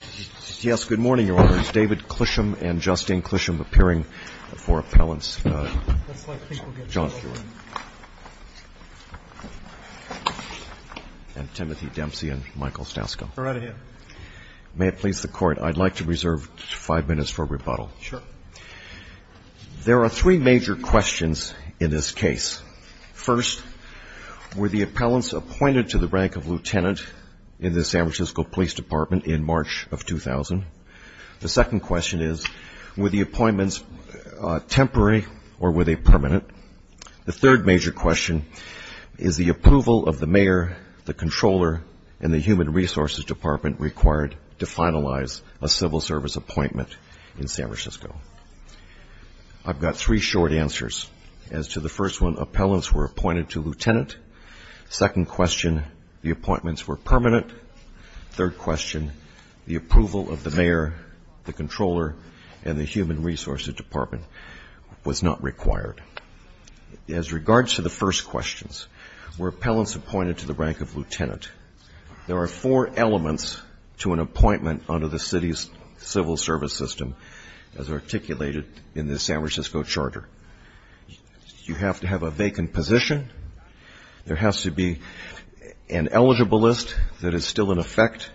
There are three major questions in this case. First, were the appellants appointed to the The second question is, were the appointments temporary or were they permanent? The third major question is, is the approval of the mayor, the controller, and the Human Resources Department required to finalize a civil service appointment in San Francisco? I've got three short answers. As to the first one, appellants were appointed to lieutenant. Second question, the appointments were permanent. Third question, the approval of the mayor, the controller, and the Human Resources Department was not required. As regards to the first questions, were appellants appointed to the rank of lieutenant? There are four elements to an appointment under the city's civil service system as articulated in the San Francisco Charter. You have to have a vacant position. There has to be an eligible list that is still in effect.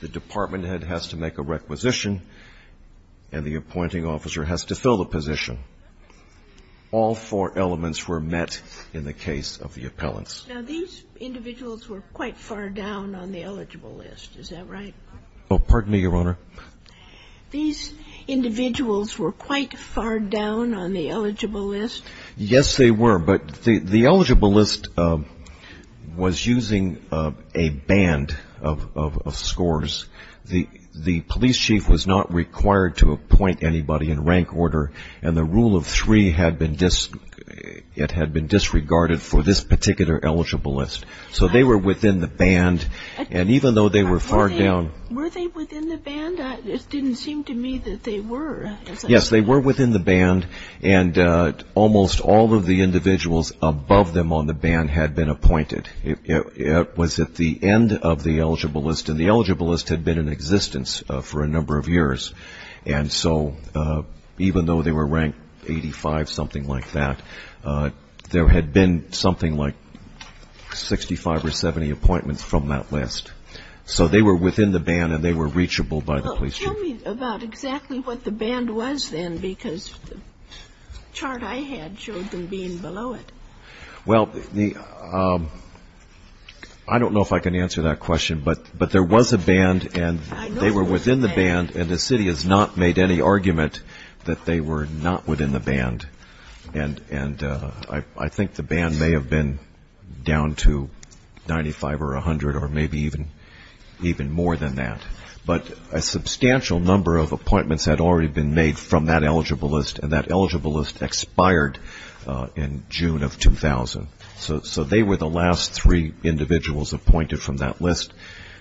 The department head has to make a requisition, and the appointing officer has to fill the position. All four elements were met in the case of the appellants. Now, these individuals were quite far down on the eligible list. Is that right? Pardon me, Your Honor. These individuals were quite far down on the eligible list. Yes, they were, but the eligible list was using a band of scores. The police chief was not required to appoint anybody in rank order, and the Were they within the band? It didn't seem to me that they were. Yes, they were within the band, and almost all of the individuals above them on the band had been appointed. It was at the end of the eligible list, and the eligible list had been in existence for a number of years. And so, even though they were ranked 85, something like that, there had been something like 65 or 70 appointments from that list. So they were within the band, and they were reachable by the police chief. Well, tell me about exactly what the band was then, because the chart I had showed them being below it. Well, I don't know if I can answer that question, but there was a band, and they were within the band, and the city has not made any argument that they were not within the band. And I think the band may have been down to 95 or 100 or maybe even more than that. But a substantial number of appointments had already been made from that eligible list, and that eligible list expired in June of 2000. So they were the last three individuals appointed from that list.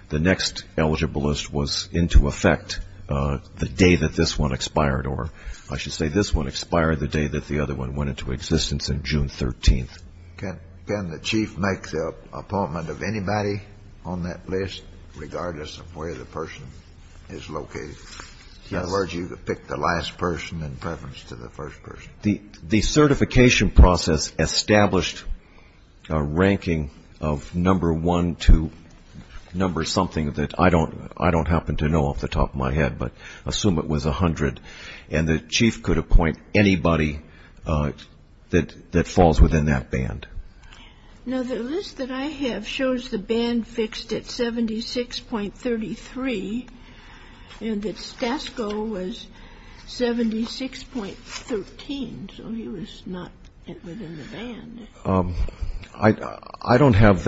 The next eligible list was into effect the day that this one expired, or I should say this one expired the day that the other one went into existence in June 13th. Can the chief make the appointment of anybody on that list, regardless of where the person is located? Yes. In other words, you could pick the last person in preference to the first person. The certification process established a ranking of number one to number something that I don't happen to know off the top of my head, but assume it was 100, and the chief could appoint anybody that falls within that band. Now, the list that I have shows the band fixed at 76.33 and that Stasko was 76.13, so he was not within the band. I don't have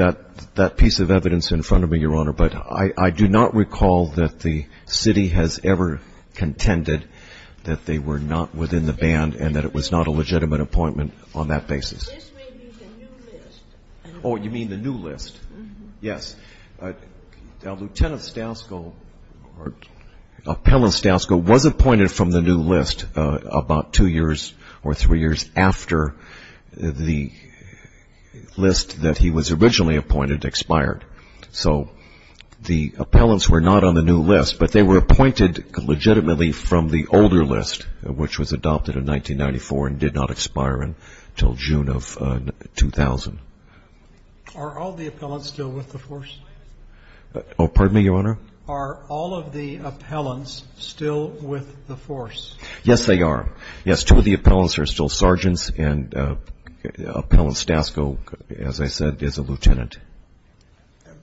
that piece of evidence in front of me, Your Honor, but I do not recall that the city has ever contended that they were not within the band and that it was not a legitimate appointment on that basis. This may be the new list. Oh, you mean the new list? Yes. Now, Lieutenant Stasko or Appellant Stasko was appointed from the new list about two years or three years after the list that he was originally appointed expired. So the appellants were not on the new list, but they were appointed legitimately from the older list, which was adopted in 1994 and did not expire until June of 2000. Are all the appellants still with the force? Oh, pardon me, Your Honor? Are all of the appellants still with the force? Yes, they are. Yes, two of the appellants are still sergeants, and Appellant Stasko, as I said, is a lieutenant.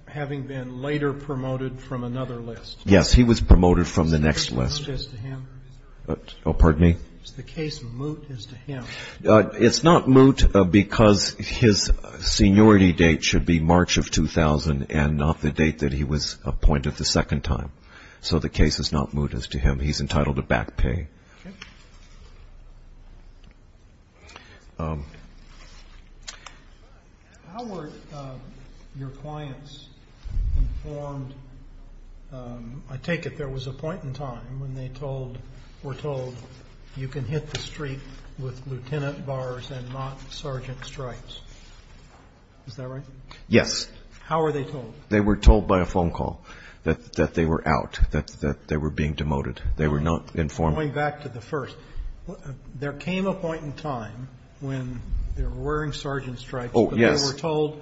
Having been later promoted from another list. Yes, he was promoted from the next list. Is the case moot as to him? Oh, pardon me? Is the case moot as to him? It's not moot because his seniority date should be March of 2000 and not the date that he was appointed the second time. So the case is not moot as to him. He's entitled to back pay. Okay. How were your clients informed? I take it there was a point in time when they told, were told you can hit the street with lieutenant bars and not sergeant stripes. Is that right? Yes. How were they told? They were told by a phone call that they were out, that they were being demoted. They were not informed. Going back to the first, there came a point in time when they were wearing sergeant stripes but they were told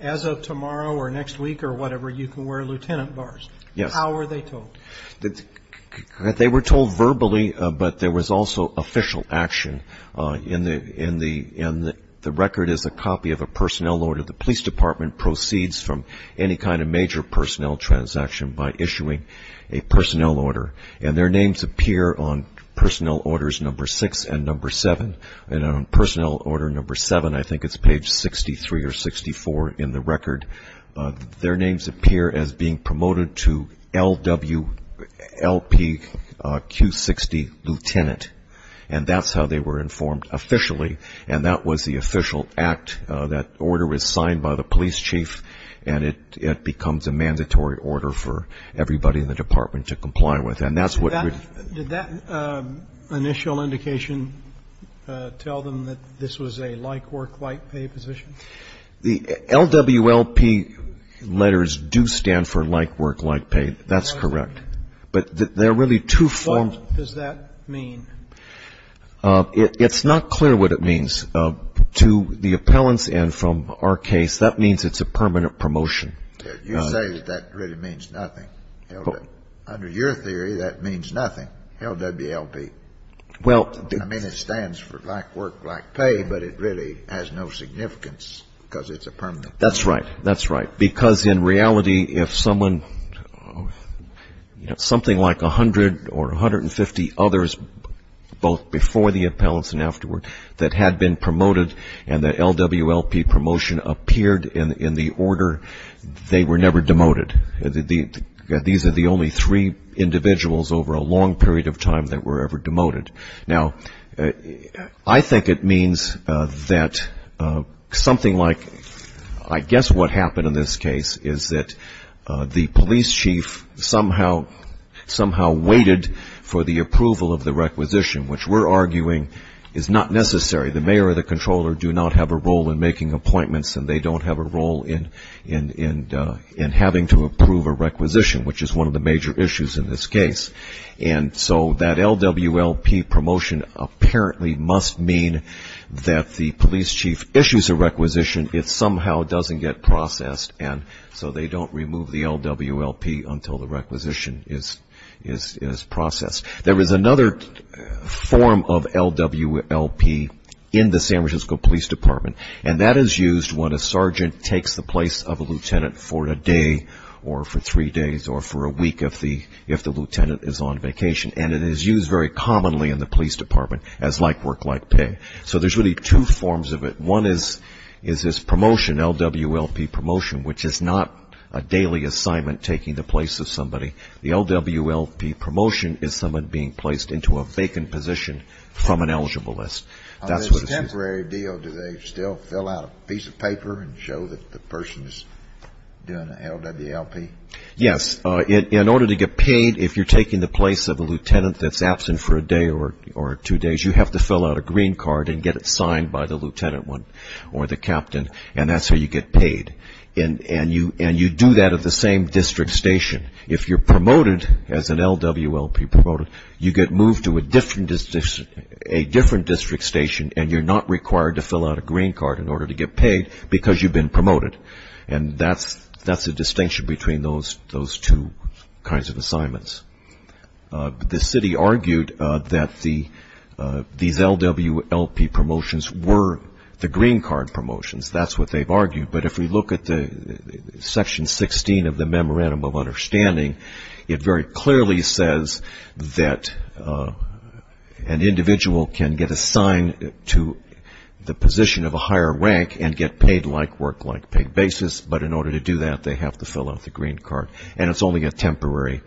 as of tomorrow or next week or whatever, you can wear lieutenant bars. Yes. How were they told? They were told verbally, but there was also official action, and the record is a copy of a personnel order. The police department proceeds from any kind of major personnel transaction by issuing a personnel order, and their names appear on personnel orders number six and number seven. And on personnel order number seven, I think it's page 63 or 64 in the record, their names appear as being promoted to LW, LP, Q60, lieutenant, and that's how they were informed officially, and that was the official act. That order was signed by the police chief, and it becomes a mandatory order for everybody in the department to comply with. And that's what we've ---- Did that initial indication tell them that this was a like work, like pay position? The LW, LP letters do stand for like work, like pay. That's correct. But there are really two forms. What does that mean? It's not clear what it means. To the appellants and from our case, that means it's a permanent promotion. You say that that really means nothing. Under your theory, that means nothing, LW, LP. Well ---- I mean, it stands for like work, like pay, but it really has no significance because it's a permanent. That's right. That's right. Because in reality, if someone, you know, something like 100 or 150 others, both before the appellants and afterward, that had been promoted and the LW, LP promotion appeared in the order, they were never demoted. These are the only three individuals over a long period of time that were ever demoted. Now, I think it means that something like ---- I guess what happened in this case is that the police chief somehow waited for the approval of the requisition, which we're arguing is not necessary. The mayor or the controller do not have a role in making appointments, and they don't have a role in having to approve a requisition, which is one of the major issues in this case. And so that LW, LP promotion apparently must mean that the police chief issues a requisition. It somehow doesn't get processed, and so they don't remove the LW, LP until the requisition is processed. There is another form of LW, LP in the San Francisco Police Department, and that is used when a sergeant takes the place of a lieutenant for a day or for three days or for a week if the lieutenant is on vacation. And it is used very commonly in the police department as like work, like pay. So there's really two forms of it. One is this promotion, LW, LP promotion, which is not a daily assignment taking the place of somebody. The LW, LP promotion is someone being placed into a vacant position from an eligible list. That's what this is. On a temporary deal, do they still fill out a piece of paper and show that the person is doing an LW, LP? Yes. In order to get paid, if you're taking the place of a lieutenant that's absent for a day or two days, you have to fill out a green card and get it signed by the lieutenant or the captain, and that's how you get paid. And you do that at the same district station. If you're promoted as an LW, LP promoted, you get moved to a different district station, and you're not required to fill out a green card in order to get paid because you've been promoted, and that's the distinction between those two kinds of assignments. The city argued that these LW, LP promotions were the green card promotions. That's what they've argued. But if we look at Section 16 of the Memorandum of Understanding, it very clearly says that an individual can get assigned to the position of a higher rank and get paid like work, like paid basis, but in order to do that, they have to fill out the green card, and it's only a temporary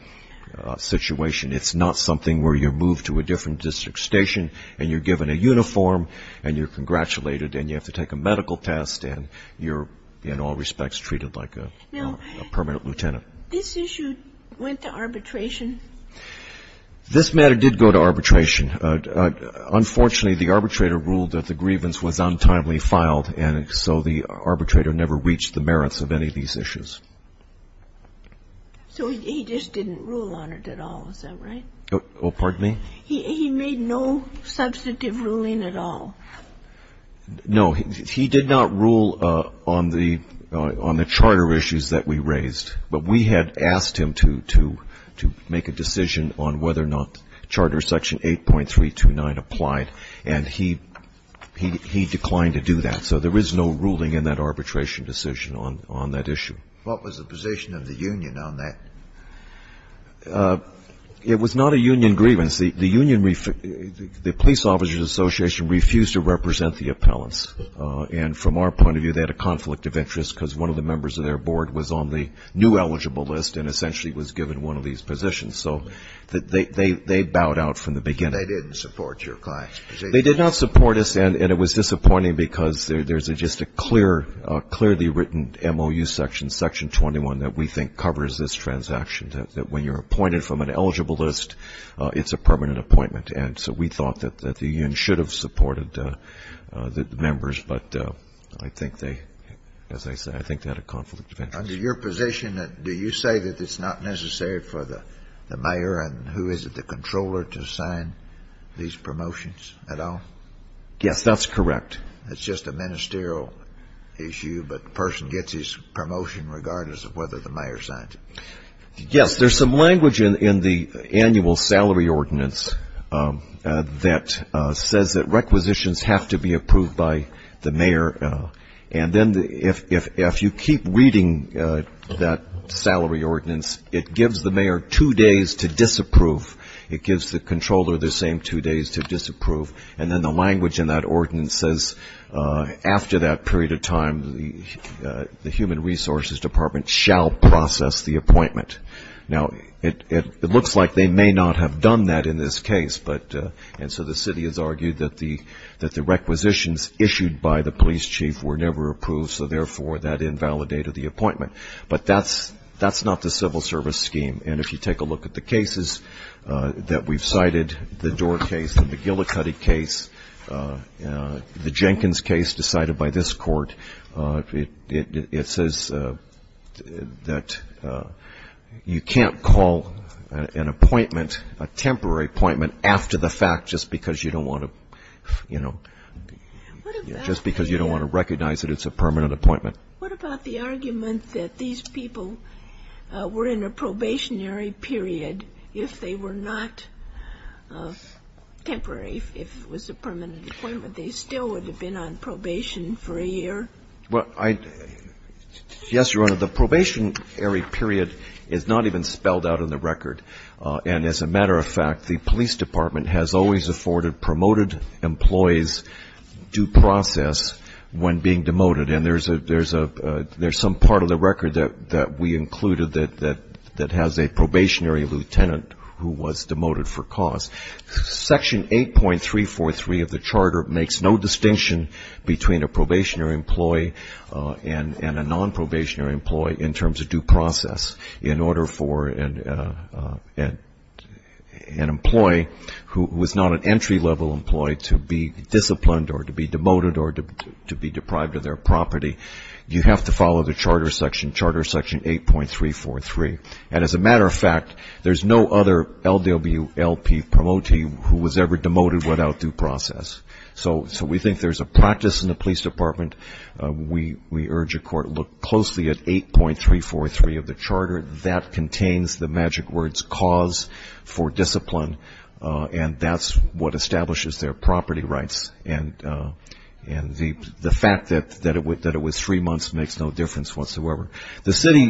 situation. It's not something where you're moved to a different district station, and you're given a uniform, and you're congratulated, and you have to take a medical test, and you're, in all respects, treated like a permanent lieutenant. This issue went to arbitration? This matter did go to arbitration. Unfortunately, the arbitrator ruled that the grievance was untimely filed, and so the arbitrator never reached the merits of any of these issues. So he just didn't rule on it at all, is that right? Oh, pardon me? He made no substantive ruling at all? No. He did not rule on the charter issues that we raised. But we had asked him to make a decision on whether or not Charter Section 8.329 applied, and he declined to do that. So there is no ruling in that arbitration decision on that issue. What was the position of the union on that? It was not a union grievance. The police officers' association refused to represent the appellants, and from our point of view, they had a conflict of interest because one of the members of their board was on the new eligible list and essentially was given one of these positions. So they bowed out from the beginning. They didn't support your client's position? They did not support us, and it was disappointing because there's just a clearly written MOU section, Section 21, that we think covers this transaction, that when you're appointed from an eligible list, it's a permanent appointment. And so we thought that the union should have supported the members. But I think they, as I said, I think they had a conflict of interest. Under your position, do you say that it's not necessary for the mayor and who is it, the controller, to sign these promotions at all? Yes, that's correct. That's just a ministerial issue, but the person gets his promotion regardless of whether the mayor signs it. Yes. There's some language in the annual salary ordinance that says that requisitions have to be approved by the mayor. And then if you keep reading that salary ordinance, it gives the mayor two days to disapprove. It gives the controller the same two days to disapprove. And then the language in that ordinance says after that period of time, the Human Resources Department shall process the appointment. Now, it looks like they may not have done that in this case, and so the city has argued that the requisitions issued by the police chief were never approved, so therefore that invalidated the appointment. But that's not the civil service scheme. And if you take a look at the cases that we've cited, the Doar case, the McGillicuddy case, the Jenkins case decided by this court, it says that you can't call an appointment, a temporary appointment after the fact just because you don't want to, you know, just because you don't want to recognize that it's a permanent appointment. What about the argument that these people were in a probationary period if they were not temporary, if it was a permanent appointment, they still would have been on probation for a year? Well, yes, Your Honor. The probationary period is not even spelled out in the record. And as a matter of fact, the police department has always afforded promoted employees due process when being demoted. And there's some part of the record that we included that has a probationary lieutenant who was demoted for cause. Section 8.343 of the charter makes no distinction between a probationary employee and a nonprobationary employee in terms of due process in order for an employee who is not an entry-level employee to be disciplined or to be demoted or to be deprived of their property. You have to follow the charter section, Charter Section 8.343. And as a matter of fact, there's no other LWLP promotee who was ever demoted without due process. So we think there's a practice in the police department. We urge a court to look closely at 8.343 of the charter. That contains the magic words cause for discipline. And that's what establishes their property rights. And the fact that it was three months makes no difference whatsoever. The city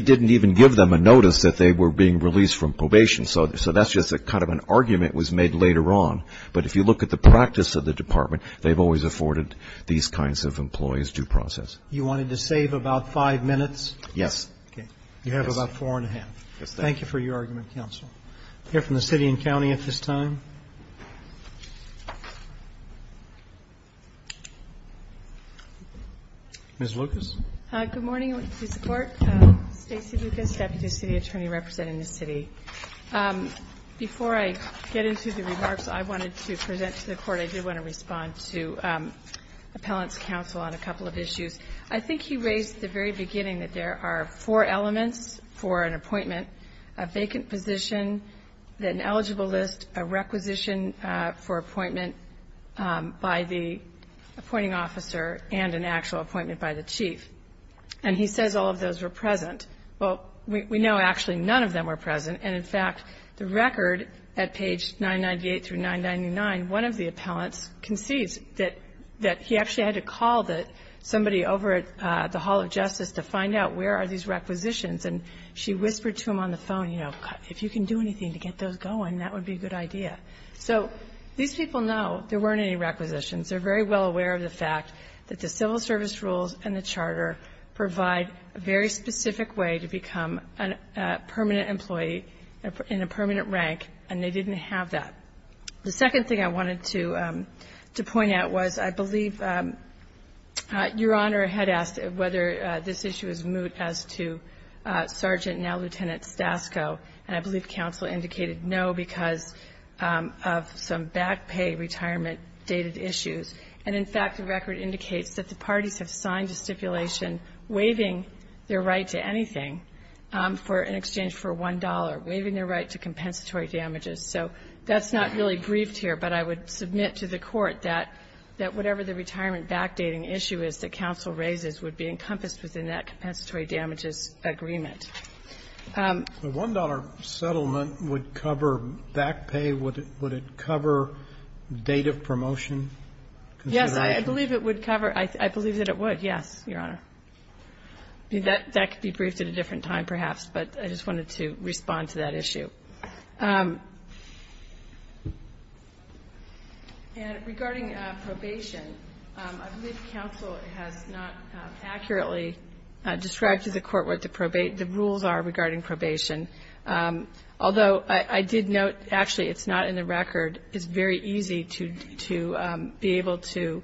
didn't even give them a notice that they were being released from probation. So that's just kind of an argument was made later on. But if you look at the practice of the department, they've always afforded these kinds of employees due process. You wanted to save about five minutes? Yes. Okay. You have about four and a half. Thank you for your argument, counsel. We'll hear from the city and county at this time. Ms. Lucas. Good morning. I want to support Stacey Lucas, Deputy City Attorney representing the city. Before I get into the remarks I wanted to present to the court, but I did want to respond to appellant's counsel on a couple of issues. I think he raised at the very beginning that there are four elements for an appointment, a vacant position, an eligible list, a requisition for appointment by the appointing officer, and an actual appointment by the chief. And he says all of those were present. Well, we know actually none of them were present. And, in fact, the record at page 998 through 999, one of the appellants concedes that he actually had to call somebody over at the Hall of Justice to find out where are these requisitions. And she whispered to him on the phone, you know, if you can do anything to get those going, that would be a good idea. So these people know there weren't any requisitions. They're very well aware of the fact that the civil service rules provide a very specific way to become a permanent employee in a permanent rank, and they didn't have that. The second thing I wanted to point out was I believe Your Honor had asked whether this issue is moot as to Sergeant, now Lieutenant, Stasko. And I believe counsel indicated no because of some back pay retirement dated issues. And, in fact, the record indicates that the parties have signed a stipulation waiving their right to anything in exchange for $1, waiving their right to compensatory damages. So that's not really briefed here, but I would submit to the Court that whatever the retirement backdating issue is that counsel raises would be encompassed within that compensatory damages agreement. The $1 settlement would cover back pay? Would it cover date of promotion? Yes, I believe it would cover. I believe that it would, yes, Your Honor. That could be briefed at a different time perhaps, but I just wanted to respond to that issue. And regarding probation, I believe counsel has not accurately described to the Court the rules are regarding probation. Although I did note, actually, it's not in the record. It's very easy to be able to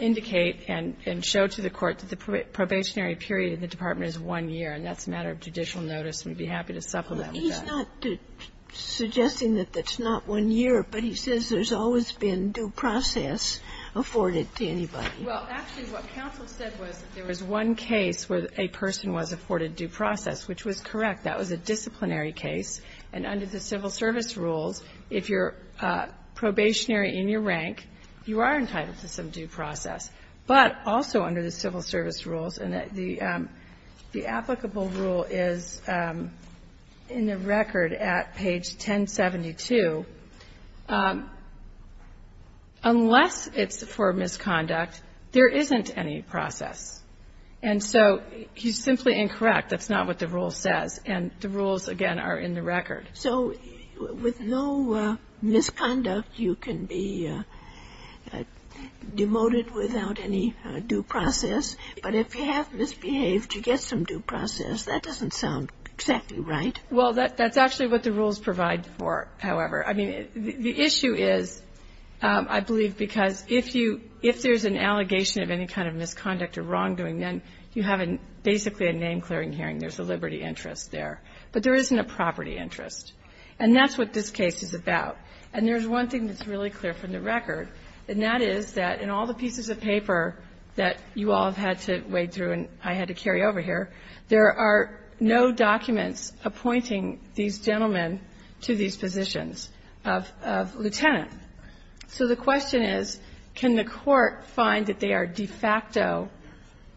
indicate and show to the Court that the probationary period in the department is one year. And that's a matter of judicial notice, and we'd be happy to supplement that. But he's not suggesting that that's not one year, but he says there's always been due process afforded to anybody. Well, actually, what counsel said was that there was one case where a person was afforded due process, which was correct. That was a disciplinary case. And under the civil service rules, if you're probationary in your rank, you are entitled to some due process. But also under the civil service rules, and the applicable rule is in the record at page 1072, unless it's for misconduct, there isn't any process. And so he's simply incorrect. That's not what the rule says. And the rules, again, are in the record. So with no misconduct, you can be demoted without any due process. But if you have misbehaved, you get some due process. That doesn't sound exactly right. Well, that's actually what the rules provide for, however. I mean, the issue is, I believe, because if you – if there's an allegation of any kind of misconduct or wrongdoing, then you have basically a name-clearing hearing. There's a liberty interest there. But there isn't a property interest. And that's what this case is about. And there's one thing that's really clear from the record, and that is that in all the pieces of paper that you all have had to wade through and I had to carry over here, there are no documents appointing these gentlemen to these positions of lieutenant. So the question is, can the court find that they are de facto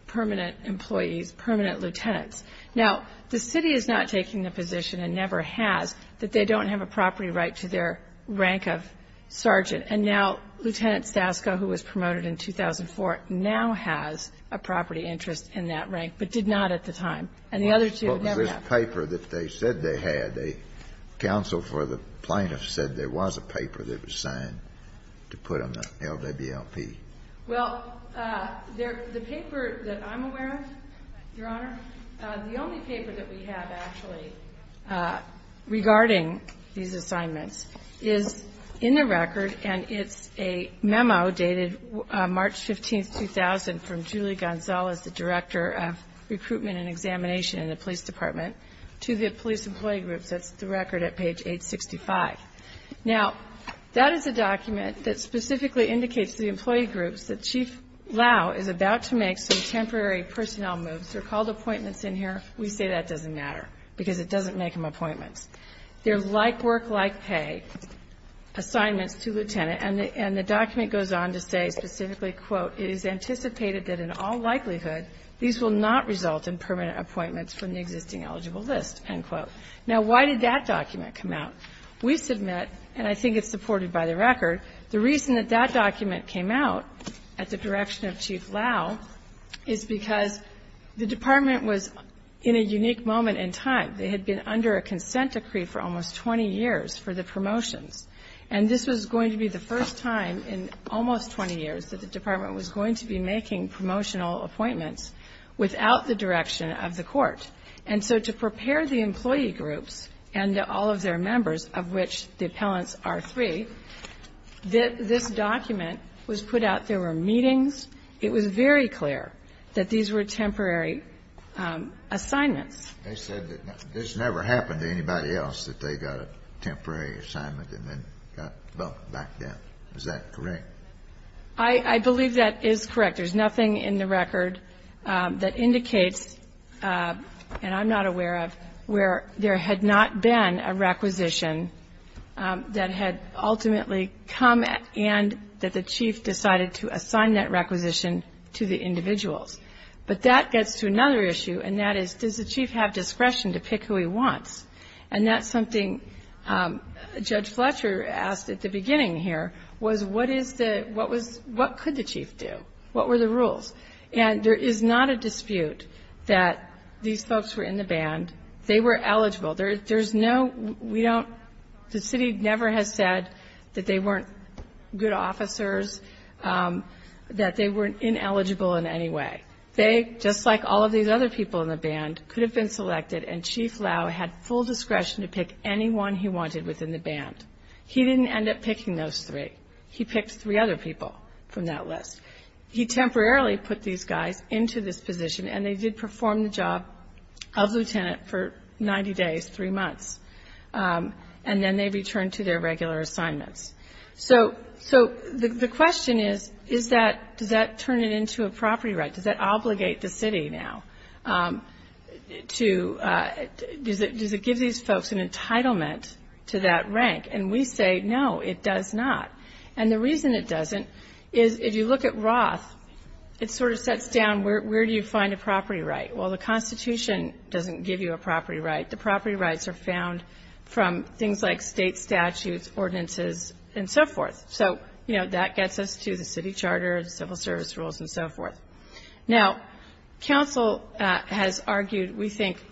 permanent employees, permanent lieutenants? Now, the city is not taking the position and never has that they don't have a property right to their rank of sergeant. And now Lieutenant Stasko, who was promoted in 2004, now has a property interest in that rank, but did not at the time. And the other two never have. Kennedy. What was this paper that they said they had? The counsel for the plaintiffs said there was a paper that was signed to put on the LWLP. Well, the paper that I'm aware of, Your Honor, the only paper that we have actually regarding these assignments is in the record, and it's a memo dated March 15, 2000 from Julie Gonzalez, the Director of Recruitment and Examination in the Police Department, to the Police Employee Groups. That's the record at page 865. Now, that is a document that specifically indicates to the employee groups that Chief Lau is about to make some temporary personnel moves. They're called appointments in here. We say that doesn't matter because it doesn't make them appointments. They're like work, like pay assignments to lieutenant, and the document goes on to say specifically, quote, it is anticipated that in all likelihood these will not result in permanent appointments from the existing eligible list, end quote. Now, why did that document come out? We submit, and I think it's supported by the record, the reason that that document came out at the direction of Chief Lau is because the department was in a unique moment in time. They had been under a consent decree for almost 20 years for the promotions. And this was going to be the first time in almost 20 years that the department was going to be making promotional appointments without the direction of the court. And so to prepare the employee groups and all of their members, of which the appellants are three, this document was put out. There were meetings. It was very clear that these were temporary assignments. They said that this never happened to anybody else, that they got a temporary assignment and then got bumped back down. Is that correct? I believe that is correct. There's nothing in the record that indicates, and I'm not aware of, where there had not been a requisition that had ultimately come and that the chief decided to assign that requisition to the individuals. But that gets to another issue, and that is, does the chief have discretion to pick who he wants? And that's something Judge Fletcher asked at the beginning here, was what could the chief do? What were the rules? And there is not a dispute that these folks were in the band. They were eligible. There's no, we don't, the city never has said that they weren't good officers, that they weren't ineligible in any way. They, just like all of these other people in the band, could have been selected and Chief Lau had full discretion to pick anyone he wanted within the band. He didn't end up picking those three. He picked three other people from that list. He temporarily put these guys into this position, and they did perform the job of lieutenant for 90 days, three months, and then they returned to their regular assignments. So the question is, is that, does that turn it into a property right? Does that obligate the city now to, does it give these folks an entitlement to that rank? And we say, no, it does not. And the reason it doesn't is, if you look at Roth, it sort of sets down, where do you find a property right? Well, the Constitution doesn't give you a property right. The property rights are found from things like state statutes, ordinances, and so forth. So, you know, that gets us to the city charter, civil service rules, and so forth. Now, council has argued, we think,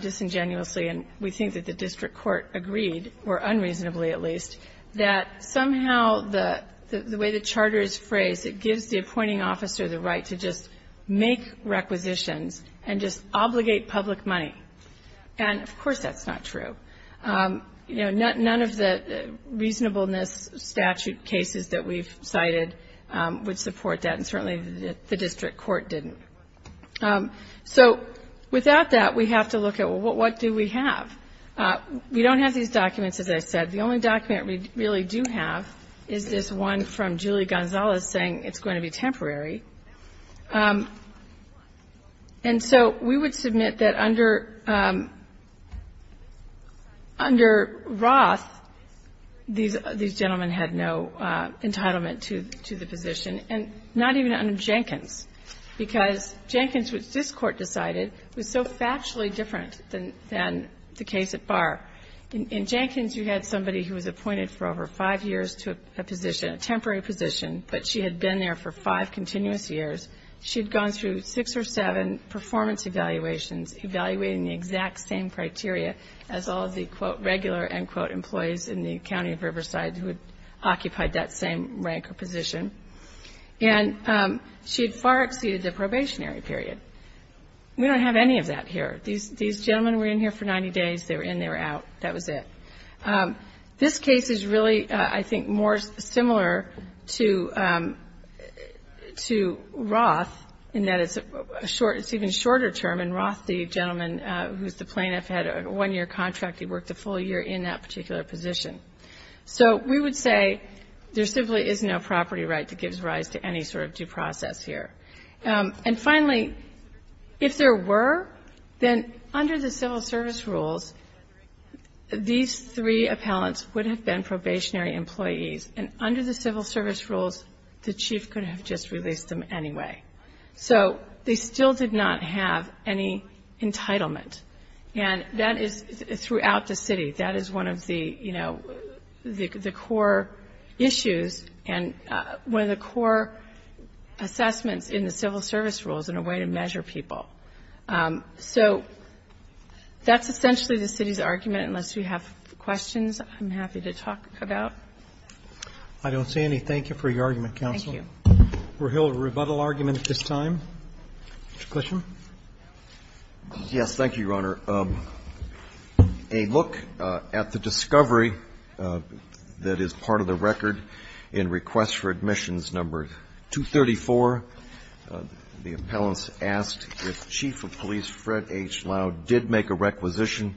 disingenuously, and we think that the district court agreed, or unreasonably at least, that somehow the way the charter is phrased, it gives the appointing officer the right to just make requisitions and just obligate public money. And, of course, that's not true. You know, none of the reasonableness statute cases that we've cited would support that, and certainly the district court didn't. So, without that, we have to look at, well, what do we have? We don't have these documents, as I said. The only document we really do have is this one from Julie Gonzalez saying it's going to be temporary. And so we would submit that under Roth, these gentlemen had no entitlement to the position, and not even under Jenkins, because Jenkins, which this Court decided, was so factually different than the case at Barr. In Jenkins, you had somebody who was appointed for over five years to a position, a temporary position, but she had been there for five continuous years. She had gone through six or seven performance evaluations, evaluating the exact same criteria as all of the, quote, regular, end quote, employees in the county of Riverside who had occupied that same rank or position. And she had far exceeded the probationary period. We don't have any of that here. These gentlemen were in here for 90 days. They were in, they were out. That was it. This case is really, I think, more similar to Roth in that it's a short, it's even shorter term, and Roth, the gentleman who's the plaintiff, had a one-year contract. He worked a full year in that particular position. So we would say there simply is no property right that gives rise to any sort of due process here. And finally, if there were, then under the civil service rules, these three appellants would have been probationary employees, and under the civil service rules the chief could have just released them anyway. So they still did not have any entitlement, and that is throughout the city. That is one of the, you know, the core issues and one of the core assessments in the civil service rules and a way to measure people. So that's essentially the city's argument, unless you have questions, I'm happy to talk about. I don't see any. Thank you for your argument, counsel. Thank you. We'll hold a rebuttal argument at this time. Mr. Clisham. Yes. Thank you, Your Honor. A look at the discovery that is part of the record in request for admissions number 234, the appellants asked if Chief of Police Fred H. Loud did make a requisition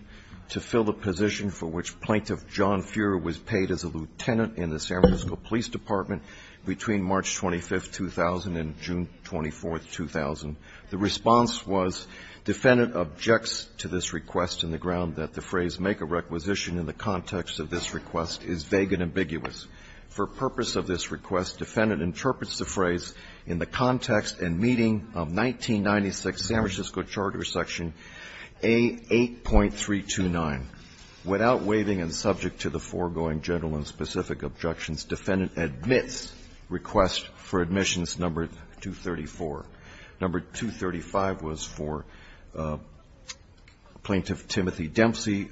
to fill the position for which Plaintiff John Fuhrer was paid as a lieutenant in the San Francisco Police Department between March 25, 2000 and June 24, 2000. The response was, Defendant objects to this request in the ground that the phrase make a requisition in the context of this request is vague and ambiguous. For purpose of this request, Defendant interprets the phrase in the context and meeting of 1996 San Francisco Charter Section A8.329. Without waiving and subject to the foregoing general and specific objections, Defendant admits request for admissions number 234. Number 235 was for Plaintiff Timothy Dempsey.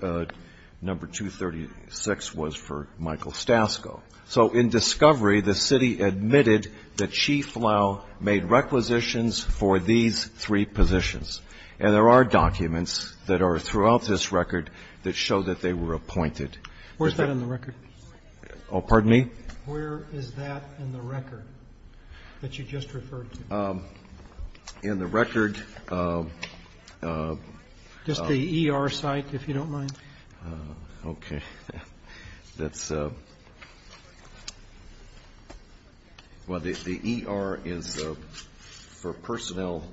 Number 236 was for Michael Stasko. So in discovery, the city admitted that Chief Lowe made requisitions for these three positions, and there are documents that are throughout this record that show that they were appointed. Where is that in the record? Pardon me? Where is that in the record that you just referred to? In the record? Just the ER site, if you don't mind. Okay. That's the ER is for personnel.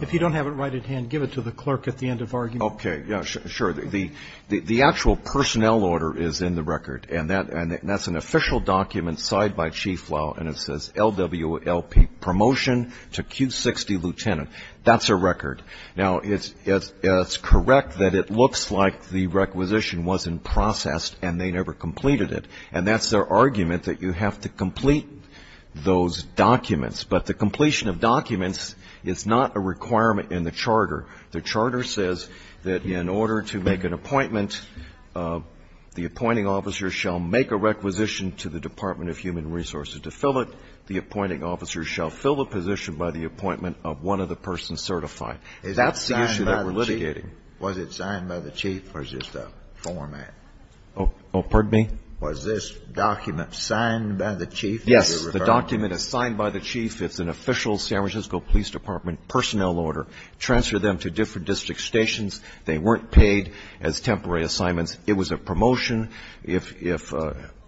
If you don't have it right at hand, give it to the clerk at the end of argument. Okay. Yeah, sure. The actual personnel order is in the record, and that's an official document signed by Chief Lowe, and it says LWLP Promotion to Q60 Lieutenant. That's a record. Now, it's correct that it looks like the requisition wasn't processed and they never completed it, and that's their argument, that you have to complete those documents. But the completion of documents is not a requirement in the charter. The charter says that in order to make an appointment, the appointing officer shall make a requisition to the Department of Human Resources to fill it, the appointing officer shall fill the position by the appointment of one of the persons certified. Is that signed by the Chief? That's the issue that we're litigating. Was it signed by the Chief, or is it a format? Oh, pardon me? Was this document signed by the Chief that you referred to? Yes, the document is signed by the Chief. It's an official San Francisco Police Department personnel order. Transfer them to different district stations. They weren't paid as temporary assignments. It was a promotion. If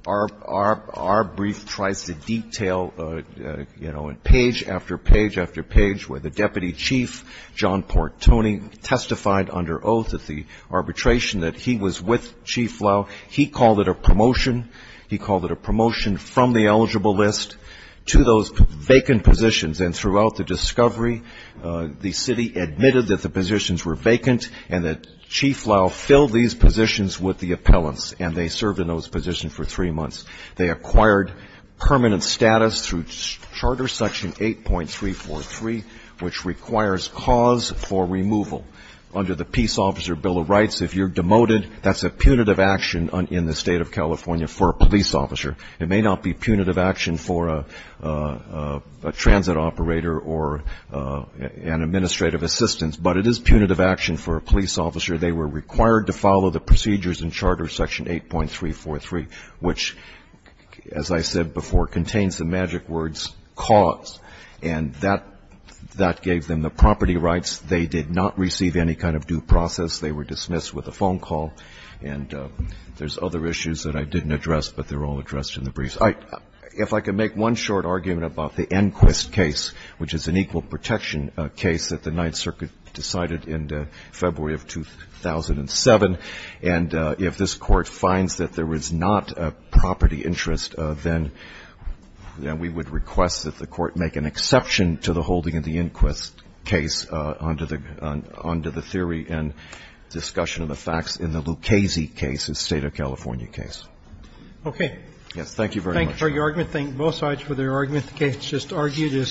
our brief tries to detail, you know, page after page after page where the Deputy Chief, John Portoni, testified under oath at the arbitration that he was with Chief Lowe, he called it a promotion. He called it a promotion from the eligible list to those vacant positions. And throughout the discovery, the city admitted that the positions were vacant and that Chief Lowe filled these positions with the appellants, and they served in those positions for three months. They acquired permanent status through Charter Section 8.343, which requires cause for removal. Under the Peace Officer Bill of Rights, if you're demoted, that's a punitive action in the State of California for a police officer. It may not be punitive action for a transit operator or an administrative assistant, but it is punitive action for a police officer. They were required to follow the procedures in Charter Section 8.343, which, as I said before, contains the magic words, cause. And that gave them the property rights. They did not receive any kind of due process. They were dismissed with a phone call. And there's other issues that I didn't address, but they're all addressed in the briefs. If I could make one short argument about the Enquist case, which is an equal protection case that the Ninth Circuit decided in February of 2007, and if this Court finds that there is not a property interest, then we would request that the Court make an exception to the holding of the Enquist case under the theory and discussion of the facts in the Lucchese case, the State of California case. Okay. Yes. Thank you very much, Your Honor. Thank you for your argument. Thank both sides for their argument. The case is just argued as such.